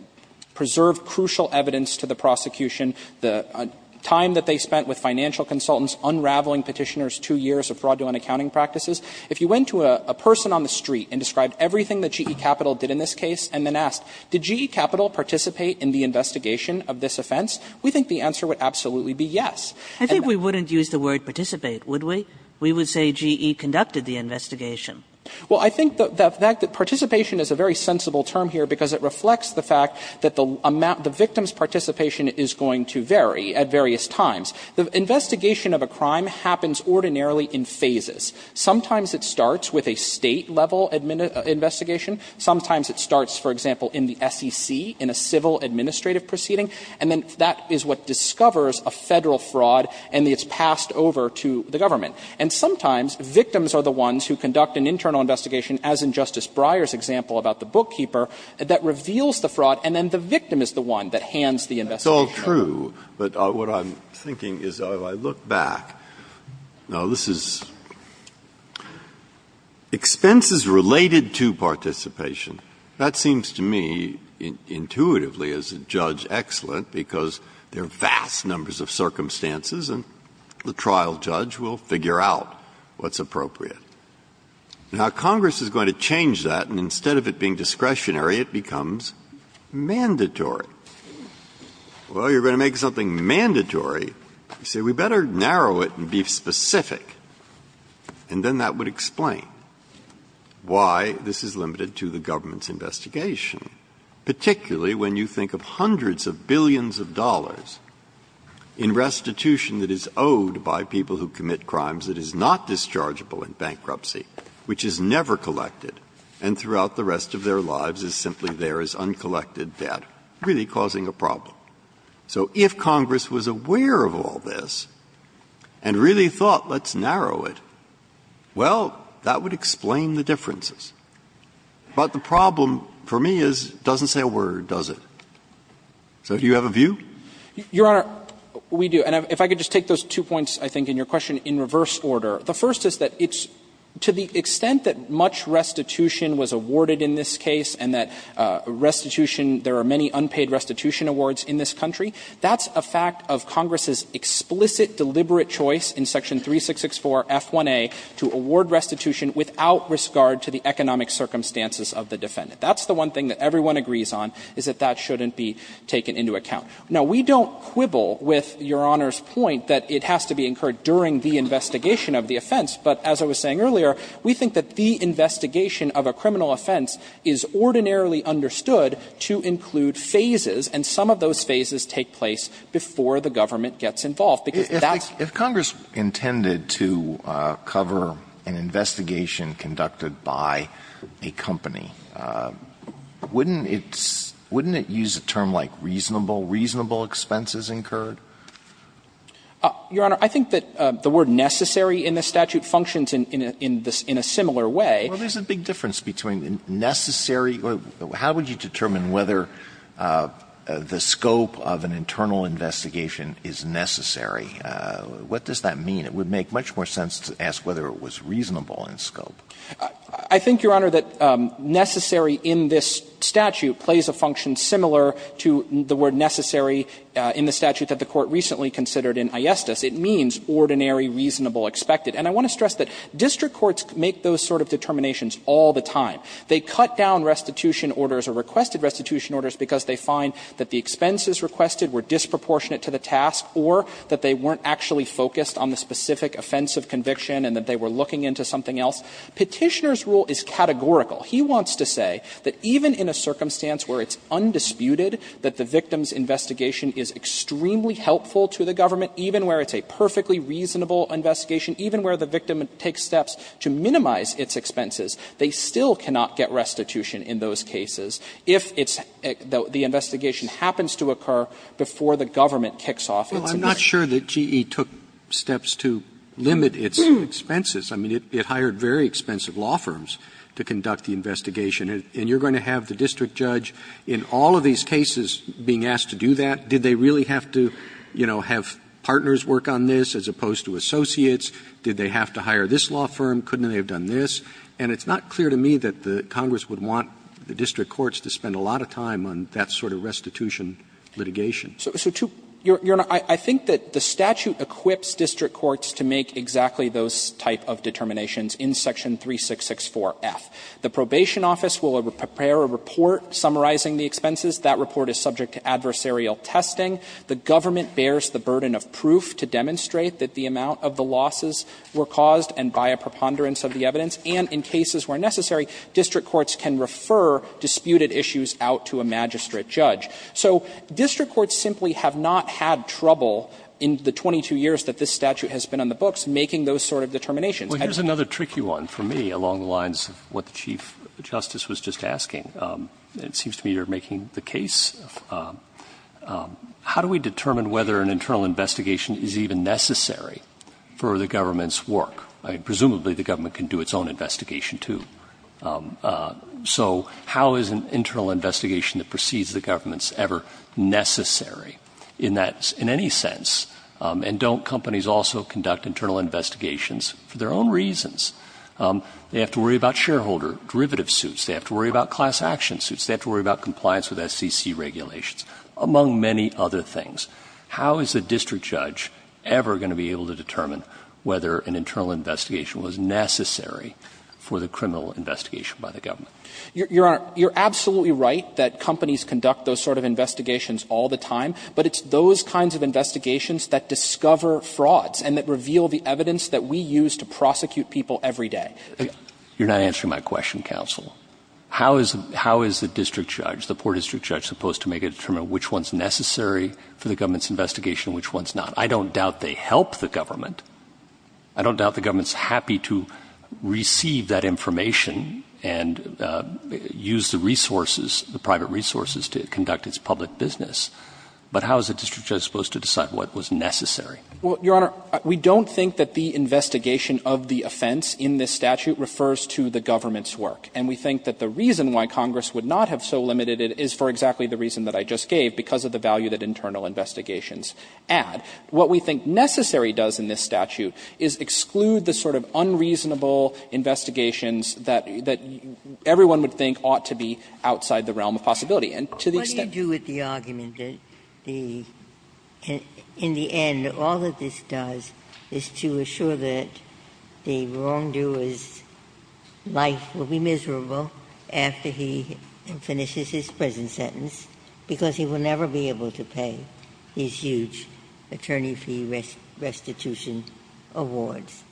preserved crucial evidence to the prosecution, the time that they spent with financial consultants unraveling Petitioner's two years of fraudulent accounting practices, if you went to a person on the street and described everything that GE Capital did in this case and then asked, did GE Capital participate in the investigation of this offense, we think the answer would absolutely be yes. investigation of this case, I think the answer would be yes. Kagan, I think we wouldn't use the word participate, would we? We would say GE conducted the investigation. Well, I think the fact that participation is a very sensible term here because it reflects the fact that the amount – the victim's participation is going to vary at various times. The investigation of a crime happens ordinarily in phases. Sometimes it starts with a State-level investigation. Sometimes it starts, for example, in the SEC in a civil administrative proceeding, and then that is what discovers a Federal fraud and it's passed over to the government. And sometimes victims are the ones who conduct an internal investigation, as in Justice Breyer's example about the bookkeeper, that reveals the fraud and then the victim is the one that hands the investigation over. Breyer, that's true, but what I'm thinking is, if I look back, no, this is – expenses related to participation, that seems to me, intuitively, as a judge, excellent because there are vast numbers of circumstances and the trial judge will figure out what's appropriate. Now, Congress is going to change that, and instead of it being discretionary, it becomes mandatory. Well, you're going to make something mandatory, you say, we'd better narrow it and be specific, and then that would explain why this is limited to the government's investigation, particularly when you think of hundreds of billions of dollars in restitution that is owed by people who commit crimes that is not dischargeable in bankruptcy, which is never collected and throughout the rest of their lives is simply there as uncollected debt, really causing a problem. So if Congress was aware of all this and really thought, let's narrow it, well, that would explain the differences. But the problem for me is it doesn't say a word, does it? So do you have a view? Your Honor, we do. And if I could just take those two points, I think, in your question in reverse order. The first is that it's – to the extent that much restitution was awarded in this case and that restitution – there are many unpaid restitution awards in this country, that's a fact of Congress's explicit, deliberate choice in section 3664 F1A to award restitution without risk guard to the economic circumstances of the defendant. That's the one thing that everyone agrees on, is that that shouldn't be taken into account. Now, we don't quibble with Your Honor's point that it has to be incurred during the investigation of the offense, but as I was saying earlier, we think that the investigation of a criminal offense is ordinarily understood to include phases, and some of those phases take place before the government gets involved, because that's – Alito If Congress intended to cover an investigation conducted by a company, wouldn't it – wouldn't it use a term like reasonable, reasonable expenses incurred? Your Honor, I think that the word necessary in the statute functions in a similar way. Alito Well, there's a big difference between necessary – how would you determine whether the scope of an internal investigation is necessary? What does that mean? It would make much more sense to ask whether it was reasonable in scope. I think, Your Honor, that necessary in this statute plays a function similar to the word necessary in the statute that the Court recently considered in Ayestas. It means ordinary, reasonable, expected. And I want to stress that district courts make those sort of determinations all the time. They cut down restitution orders or requested restitution orders because they find that the expenses requested were disproportionate to the task or that they weren't actually focused on the specific offense of conviction and that they were looking into something else. Petitioner's rule is categorical. He wants to say that even in a circumstance where it's undisputed that the victim's investigation is extremely helpful to the government, even where it's a perfectly reasonable investigation, even where the victim takes steps to minimize its expenses, they still cannot get restitution in those cases if it's – the investigation happens to occur before the government kicks off its investigation. Roberts' Well, I'm not sure that GE took steps to limit its expenses. I mean, it hired very expensive law firms to conduct the investigation. And you're going to have the district judge in all of these cases being asked to do that? Did they really have to, you know, have partners work on this as opposed to associates? Did they have to hire this law firm? Couldn't they have done this? And it's not clear to me that the Congress would want the district courts to spend a lot of time on that sort of restitution litigation. So to – Goldstein, Your Honor, I think that the statute equips district courts to make exactly those type of determinations in section 3664F. The probation office will prepare a report summarizing the expenses. That report is subject to adversarial testing. The government bears the burden of proof to demonstrate that the amount of the losses were caused and by a preponderance of the evidence. And in cases where necessary, district courts can refer disputed issues out to a magistrate judge. So district courts simply have not had trouble in the 22 years that this statute has been on the books making those sort of determinations. Roberts' Well, here's another tricky one for me along the lines of what the Chief Justice was just asking. It seems to me you're making the case. How do we determine whether an internal investigation is even necessary for the government's work? I mean, presumably the government can do its own investigation, too. So how is an internal investigation that precedes the government's ever necessary in that – in any sense? And don't companies also conduct internal investigations for their own reasons? They have to worry about shareholder derivative suits. They have to worry about class action suits. They have to worry about compliance with SCC regulations, among many other things. How is a district judge ever going to be able to determine whether an internal investigation was necessary for the criminal investigation by the government? You're absolutely right that companies conduct those sort of investigations all the time, but it's those kinds of investigations that discover frauds and that reveal the evidence that we use to prosecute people every day. You're not answering my question, counsel. How is the district judge, the poor district judge, supposed to make a determination of which one's necessary for the government's investigation and which one's not? I don't doubt they help the government. I don't doubt the government's happy to receive that information and use the resources, the private resources, to conduct its public business. But how is a district judge supposed to decide what was necessary? Well, Your Honor, we don't think that the investigation of the offense in this statute refers to the government's work. And we think that the reason why Congress would not have so limited it is for exactly the reason that I just gave, because of the value that internal investigations add. What we think necessary does in this statute is exclude the sort of unreasonable investigations that everyone would think ought to be outside the realm of possibility. And to the extent that you do with the argument that the, in the end, all of the law that this does is to assure that the wrongdoer's life will be miserable after he finishes his prison sentence, because he will never be able to pay his huge attorney fee restitution awards,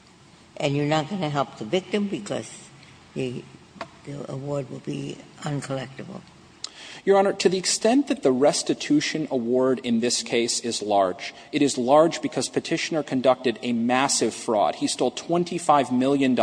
and you're not going to help the victim because the award will be uncollectible. Your Honor, to the extent that the restitution award in this case is large, it is large because Petitioner conducted a massive fraud. He stole $25 million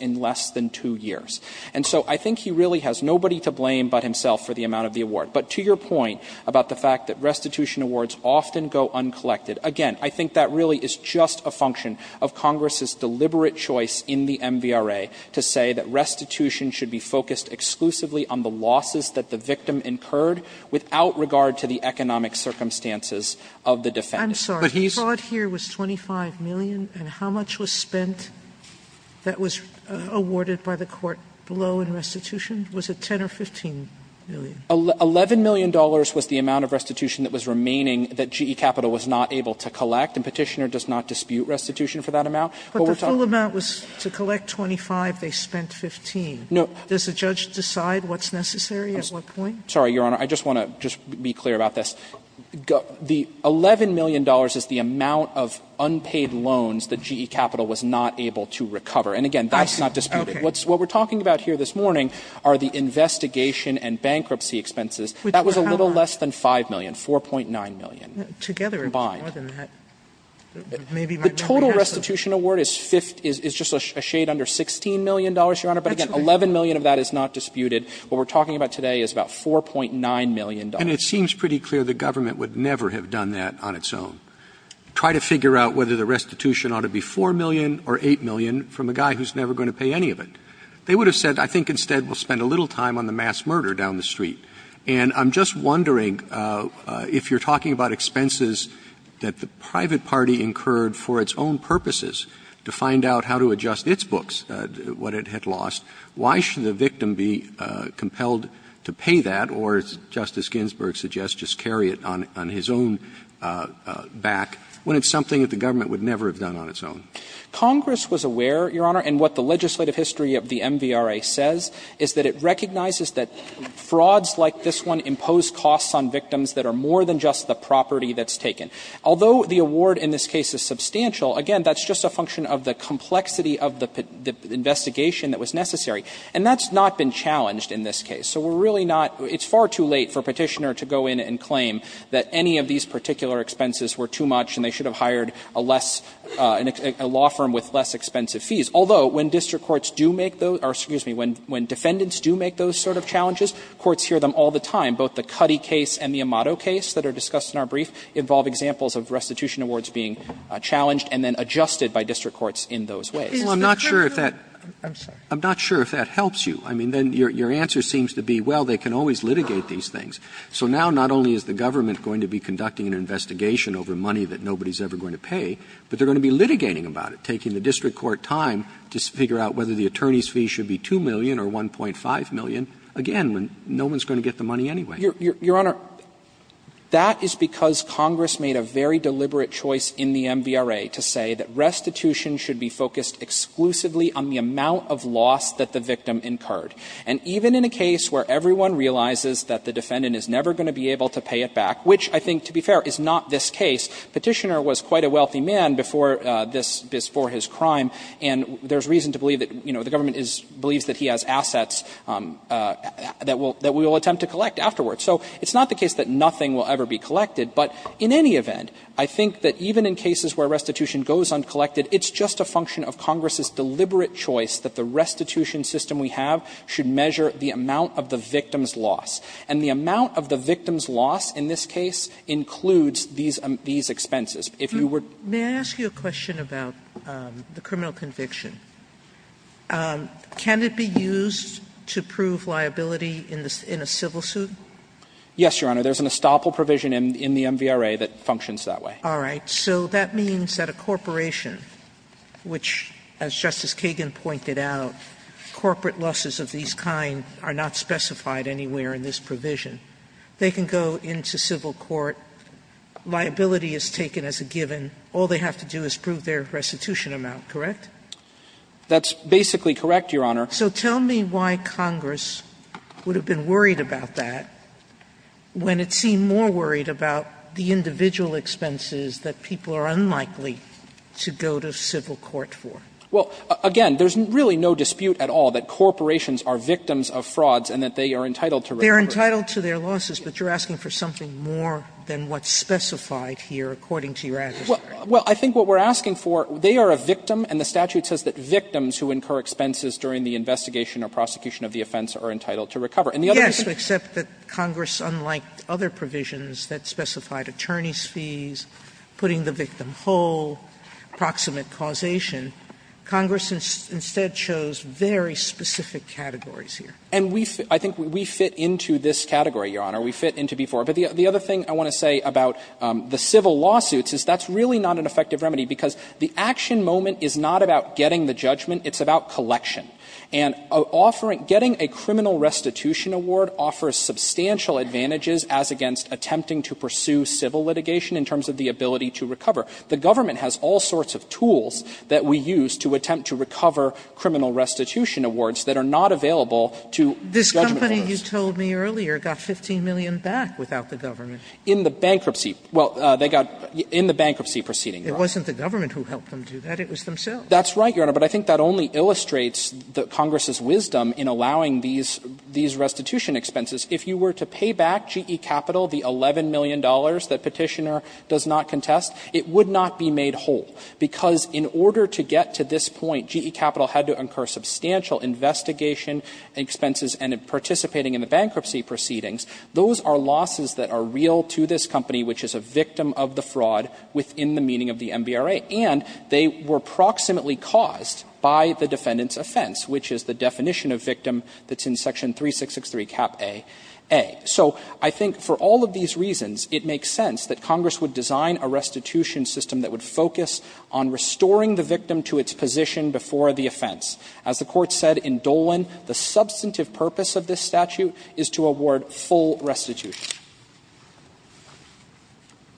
in less than two years. And so I think he really has nobody to blame but himself for the amount of the award. But to your point about the fact that restitution awards often go uncollected, again, I think that really is just a function of Congress's deliberate choice in the MVRA to say that restitution should be focused exclusively on the losses that the victim incurred without regard to the economic circumstances of the defendant. But he's going to be able to pay his attorney fee. Sotomayor, the amount here was $25 million, and how much was spent that was awarded by the court below in restitution? Was it $10 million or $15 million? $11 million was the amount of restitution that was remaining that GE Capital was not able to collect, and Petitioner does not dispute restitution for that amount. But the full amount was to collect $25 million, they spent $15 million. Does the judge decide what's necessary at what point? Sorry, Your Honor, I just want to be clear about this. The $11 million is the amount of unpaid loans that GE Capital was not able to recover. And again, that's not disputed. What we're talking about here this morning are the investigation and bankruptcy expenses. That was a little less than $5 million, $4.9 million combined. The total restitution award is just a shade under $16 million, Your Honor. But again, $11 million of that is not disputed. What we're talking about today is about $4.9 million. Roberts. And it seems pretty clear the government would never have done that on its own. Try to figure out whether the restitution ought to be $4 million or $8 million from a guy who's never going to pay any of it. They would have said, I think instead we'll spend a little time on the mass murder down the street. And I'm just wondering, if you're talking about expenses that the private party incurred for its own purposes to find out how to adjust its books, what it had lost, why should the victim be compelled to pay that? Or, as Justice Ginsburg suggests, just carry it on his own back, when it's something that the government would never have done on its own. Congress was aware, Your Honor, and what the legislative history of the MVRA says is that it recognizes that frauds like this one impose costs on victims that are more than just the property that's taken. Although the award in this case is substantial, again, that's just a function of the complexity of the investigation that was necessary. And that's not been challenged in this case. So we're really not – it's far too late for a Petitioner to go in and claim that any of these particular expenses were too much and they should have hired a less – a law firm with less expensive fees. Although, when district courts do make those – or, excuse me, when defendants do make those sort of challenges, courts hear them all the time. Both the Cuddy case and the Amato case that are discussed in our brief involve examples of restitution awards being challenged and then adjusted by district courts in those ways. Robertson, I'm not sure if that helps you. I mean, then your answer seems to be, well, they can always litigate these things. So now not only is the government going to be conducting an investigation over money that nobody's ever going to pay, but they're going to be litigating about it, taking the district court time to figure out whether the attorney's fee should be 2 million or 1.5 million, again, when no one's going to get the money anyway. Shanmugamer Your Honor, that is because Congress made a very deliberate choice in the MVRA to say that restitution should be focused exclusively on the amount of loss that the victim incurred. And even in a case where everyone realizes that the defendant is never going to be able to pay it back, which I think, to be fair, is not this case. Petitioner was quite a wealthy man before this – before his crime, and there's reason to believe that, you know, the government is – believes that he has assets that will – that we will attempt to collect afterwards. So it's not the case that nothing will ever be collected, but in any event, I think that even in cases where restitution goes uncollected, it's just a function of Congress's deliberate choice that the restitution system we have should measure the amount of the victim's loss. And the amount of the victim's loss in this case includes these – these expenses. If you were to – Sotomayor May I ask you a question about the criminal conviction? Can it be used to prove liability in a civil suit? Shanmugamer Yes, Your Honor. There's an estoppel provision in the MVRA that functions that way. Sotomayor All right. So that means that a corporation, which, as Justice Kagan pointed out, corporate losses of these kind are not specified anywhere in this provision, they can go into civil court, liability is taken as a given, all they have to do is prove their restitution amount, correct? Shanmugamer That's basically correct, Your Honor. Sotomayor So tell me why Congress would have been worried about that when it seemed more worried about the individual expenses that people are unlikely to go to civil Shanmugamer Well, again, there's really no dispute at all that corporations are victims of frauds and that they are entitled to recover. Sotomayor They're entitled to their losses, but you're asking for something more than what's specified here, according to your adversary. Shanmugamer Well, I think what we're asking for, they are a victim and the statute says that victims who incur expenses during the investigation or prosecution of the offense are entitled to recover. And the other is to accept that Congress, unlike other provisions, that specified attorney's fees, putting the victim whole, proximate causation, Congress instead chose very specific categories here. Shanmugamer And we fit into this category, Your Honor, we fit into B-4. But the other thing I want to say about the civil lawsuits is that's really not an effective remedy, because the action moment is not about getting the judgment, it's about collection. And getting a criminal restitution award offers substantial advantages as against attempting to pursue civil litigation in terms of the ability to recover. The government has all sorts of tools that we use to attempt to recover criminal restitution awards that are not available to judgment of us. Sotomayor This company, you told me earlier, got 15 million back without the government. Shanmugamer In the bankruptcy, well, they got in the bankruptcy proceeding. Sotomayor It wasn't the government who helped them do that, it was themselves. Shanmugamer That's right, Your Honor, but I think that only illustrates the Congress's wisdom in allowing these restitution expenses. If you were to pay back GE Capital the $11 million that Petitioner does not contest, it would not be made whole, because in order to get to this point, GE Capital had to incur substantial investigation expenses and participating in the bankruptcy proceedings. Those are losses that are real to this company, which is a victim of the fraud within the meaning of the MBRA. And they were proximately caused by the defendant's offense, which is the definition of victim that's in Section 3663, Cap A, A. So I think for all of these reasons, it makes sense that Congress would design a restitution system that would focus on restoring the victim to its position before the offense. As the Court said in Dolan, the substantive purpose of this statute is to award full restitution.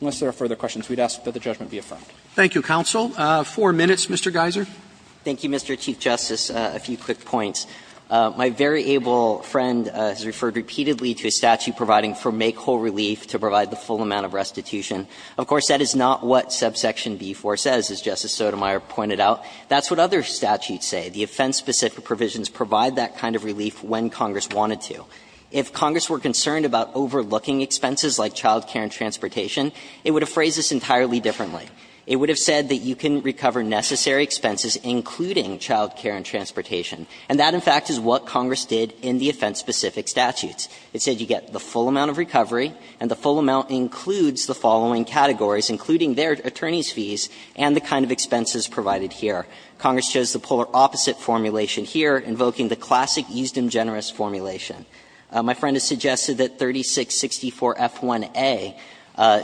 Unless there are further questions, we'd ask that the judgment be affirmed. Roberts. Thank you, counsel. Four minutes, Mr. Geiser. Geiser Thank you, Mr. Chief Justice. A few quick points. My very able friend has referred repeatedly to a statute providing for make-whole relief to provide the full amount of restitution. Of course, that is not what subsection B-4 says, as Justice Sotomayor pointed out. That's what other statutes say. The offense-specific provisions provide that kind of relief when Congress wanted to. If Congress were concerned about overlooking expenses like child care and transportation, it would have phrased this entirely differently. It would have said that you can recover necessary expenses, including child care and transportation. And that, in fact, is what Congress did in the offense-specific statutes. It said you get the full amount of recovery, and the full amount includes the following categories, including their attorney's fees and the kind of expenses provided here. Congress chose the polar opposite formulation here, invoking the classic easedom generous formulation. My friend has suggested that 3664f1a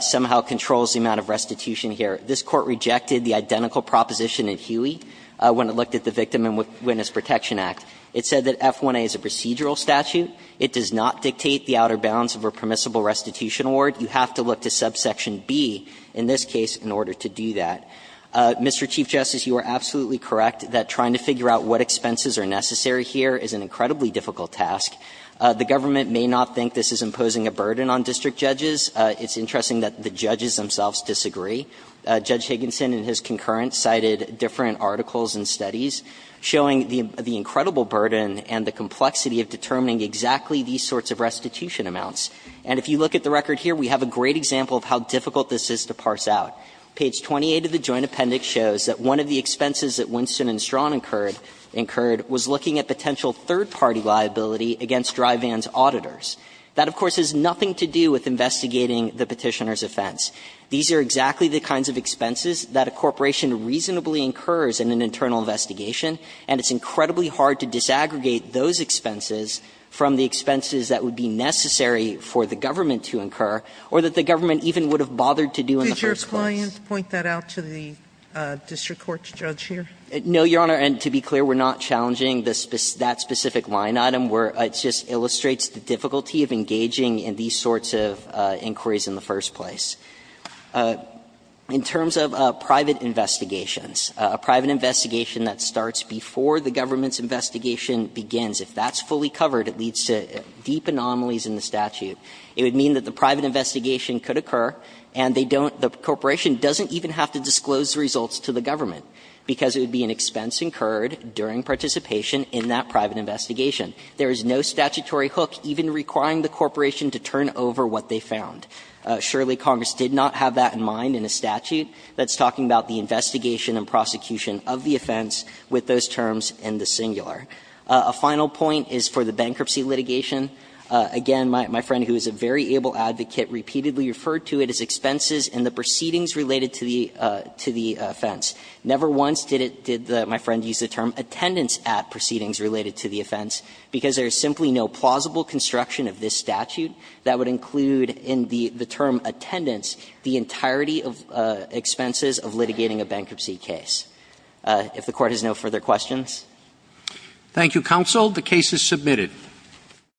somehow controls the amount of restitution here. This Court rejected the identical proposition in Huey when it looked at the victim and witness protection act. It said that f1a is a procedural statute. It does not dictate the outer bounds of a permissible restitution award. You have to look to subsection B in this case in order to do that. Mr. Chief Justice, you are absolutely correct that trying to figure out what expenses are necessary here is an incredibly difficult task. The government may not think this is imposing a burden on district judges. It's interesting that the judges themselves disagree. Judge Higginson and his concurrence cited different articles and studies. Showing the incredible burden and the complexity of determining exactly these sorts of restitution amounts. And if you look at the record here, we have a great example of how difficult this is to parse out. Page 28 of the joint appendix shows that one of the expenses that Winston and Strawn incurred was looking at potential third-party liability against Dry Van's auditors. That, of course, has nothing to do with investigating the Petitioner's offense. These are exactly the kinds of expenses that a corporation reasonably incurs in an internal investigation, and it's incredibly hard to disaggregate those expenses from the expenses that would be necessary for the government to incur or that the government even would have bothered to do in the first place. Sotomayor, did your client point that out to the district court's judge here? No, Your Honor, and to be clear, we're not challenging that specific line item. It just illustrates the difficulty of engaging in these sorts of inquiries in the first place. In terms of private investigations, a private investigation that starts before the government's investigation begins, if that's fully covered, it leads to deep anomalies in the statute. It would mean that the private investigation could occur, and they don't the corporation doesn't even have to disclose the results to the government, because it would be an expense incurred during participation in that private investigation. There is no statutory hook even requiring the corporation to turn over what they found. Surely, Congress did not have that in mind in a statute that's talking about the investigation and prosecution of the offense with those terms in the singular. A final point is for the bankruptcy litigation. Again, my friend, who is a very able advocate, repeatedly referred to it as expenses in the proceedings related to the offense. Never once did it – did my friend use the term attendance at proceedings related to the offense, because there is simply no plausible construction of this statute that would include in the term attendance the entirety of expenses of litigating a bankruptcy case. If the Court has no further questions. Roberts. Thank you, counsel. The case is submitted.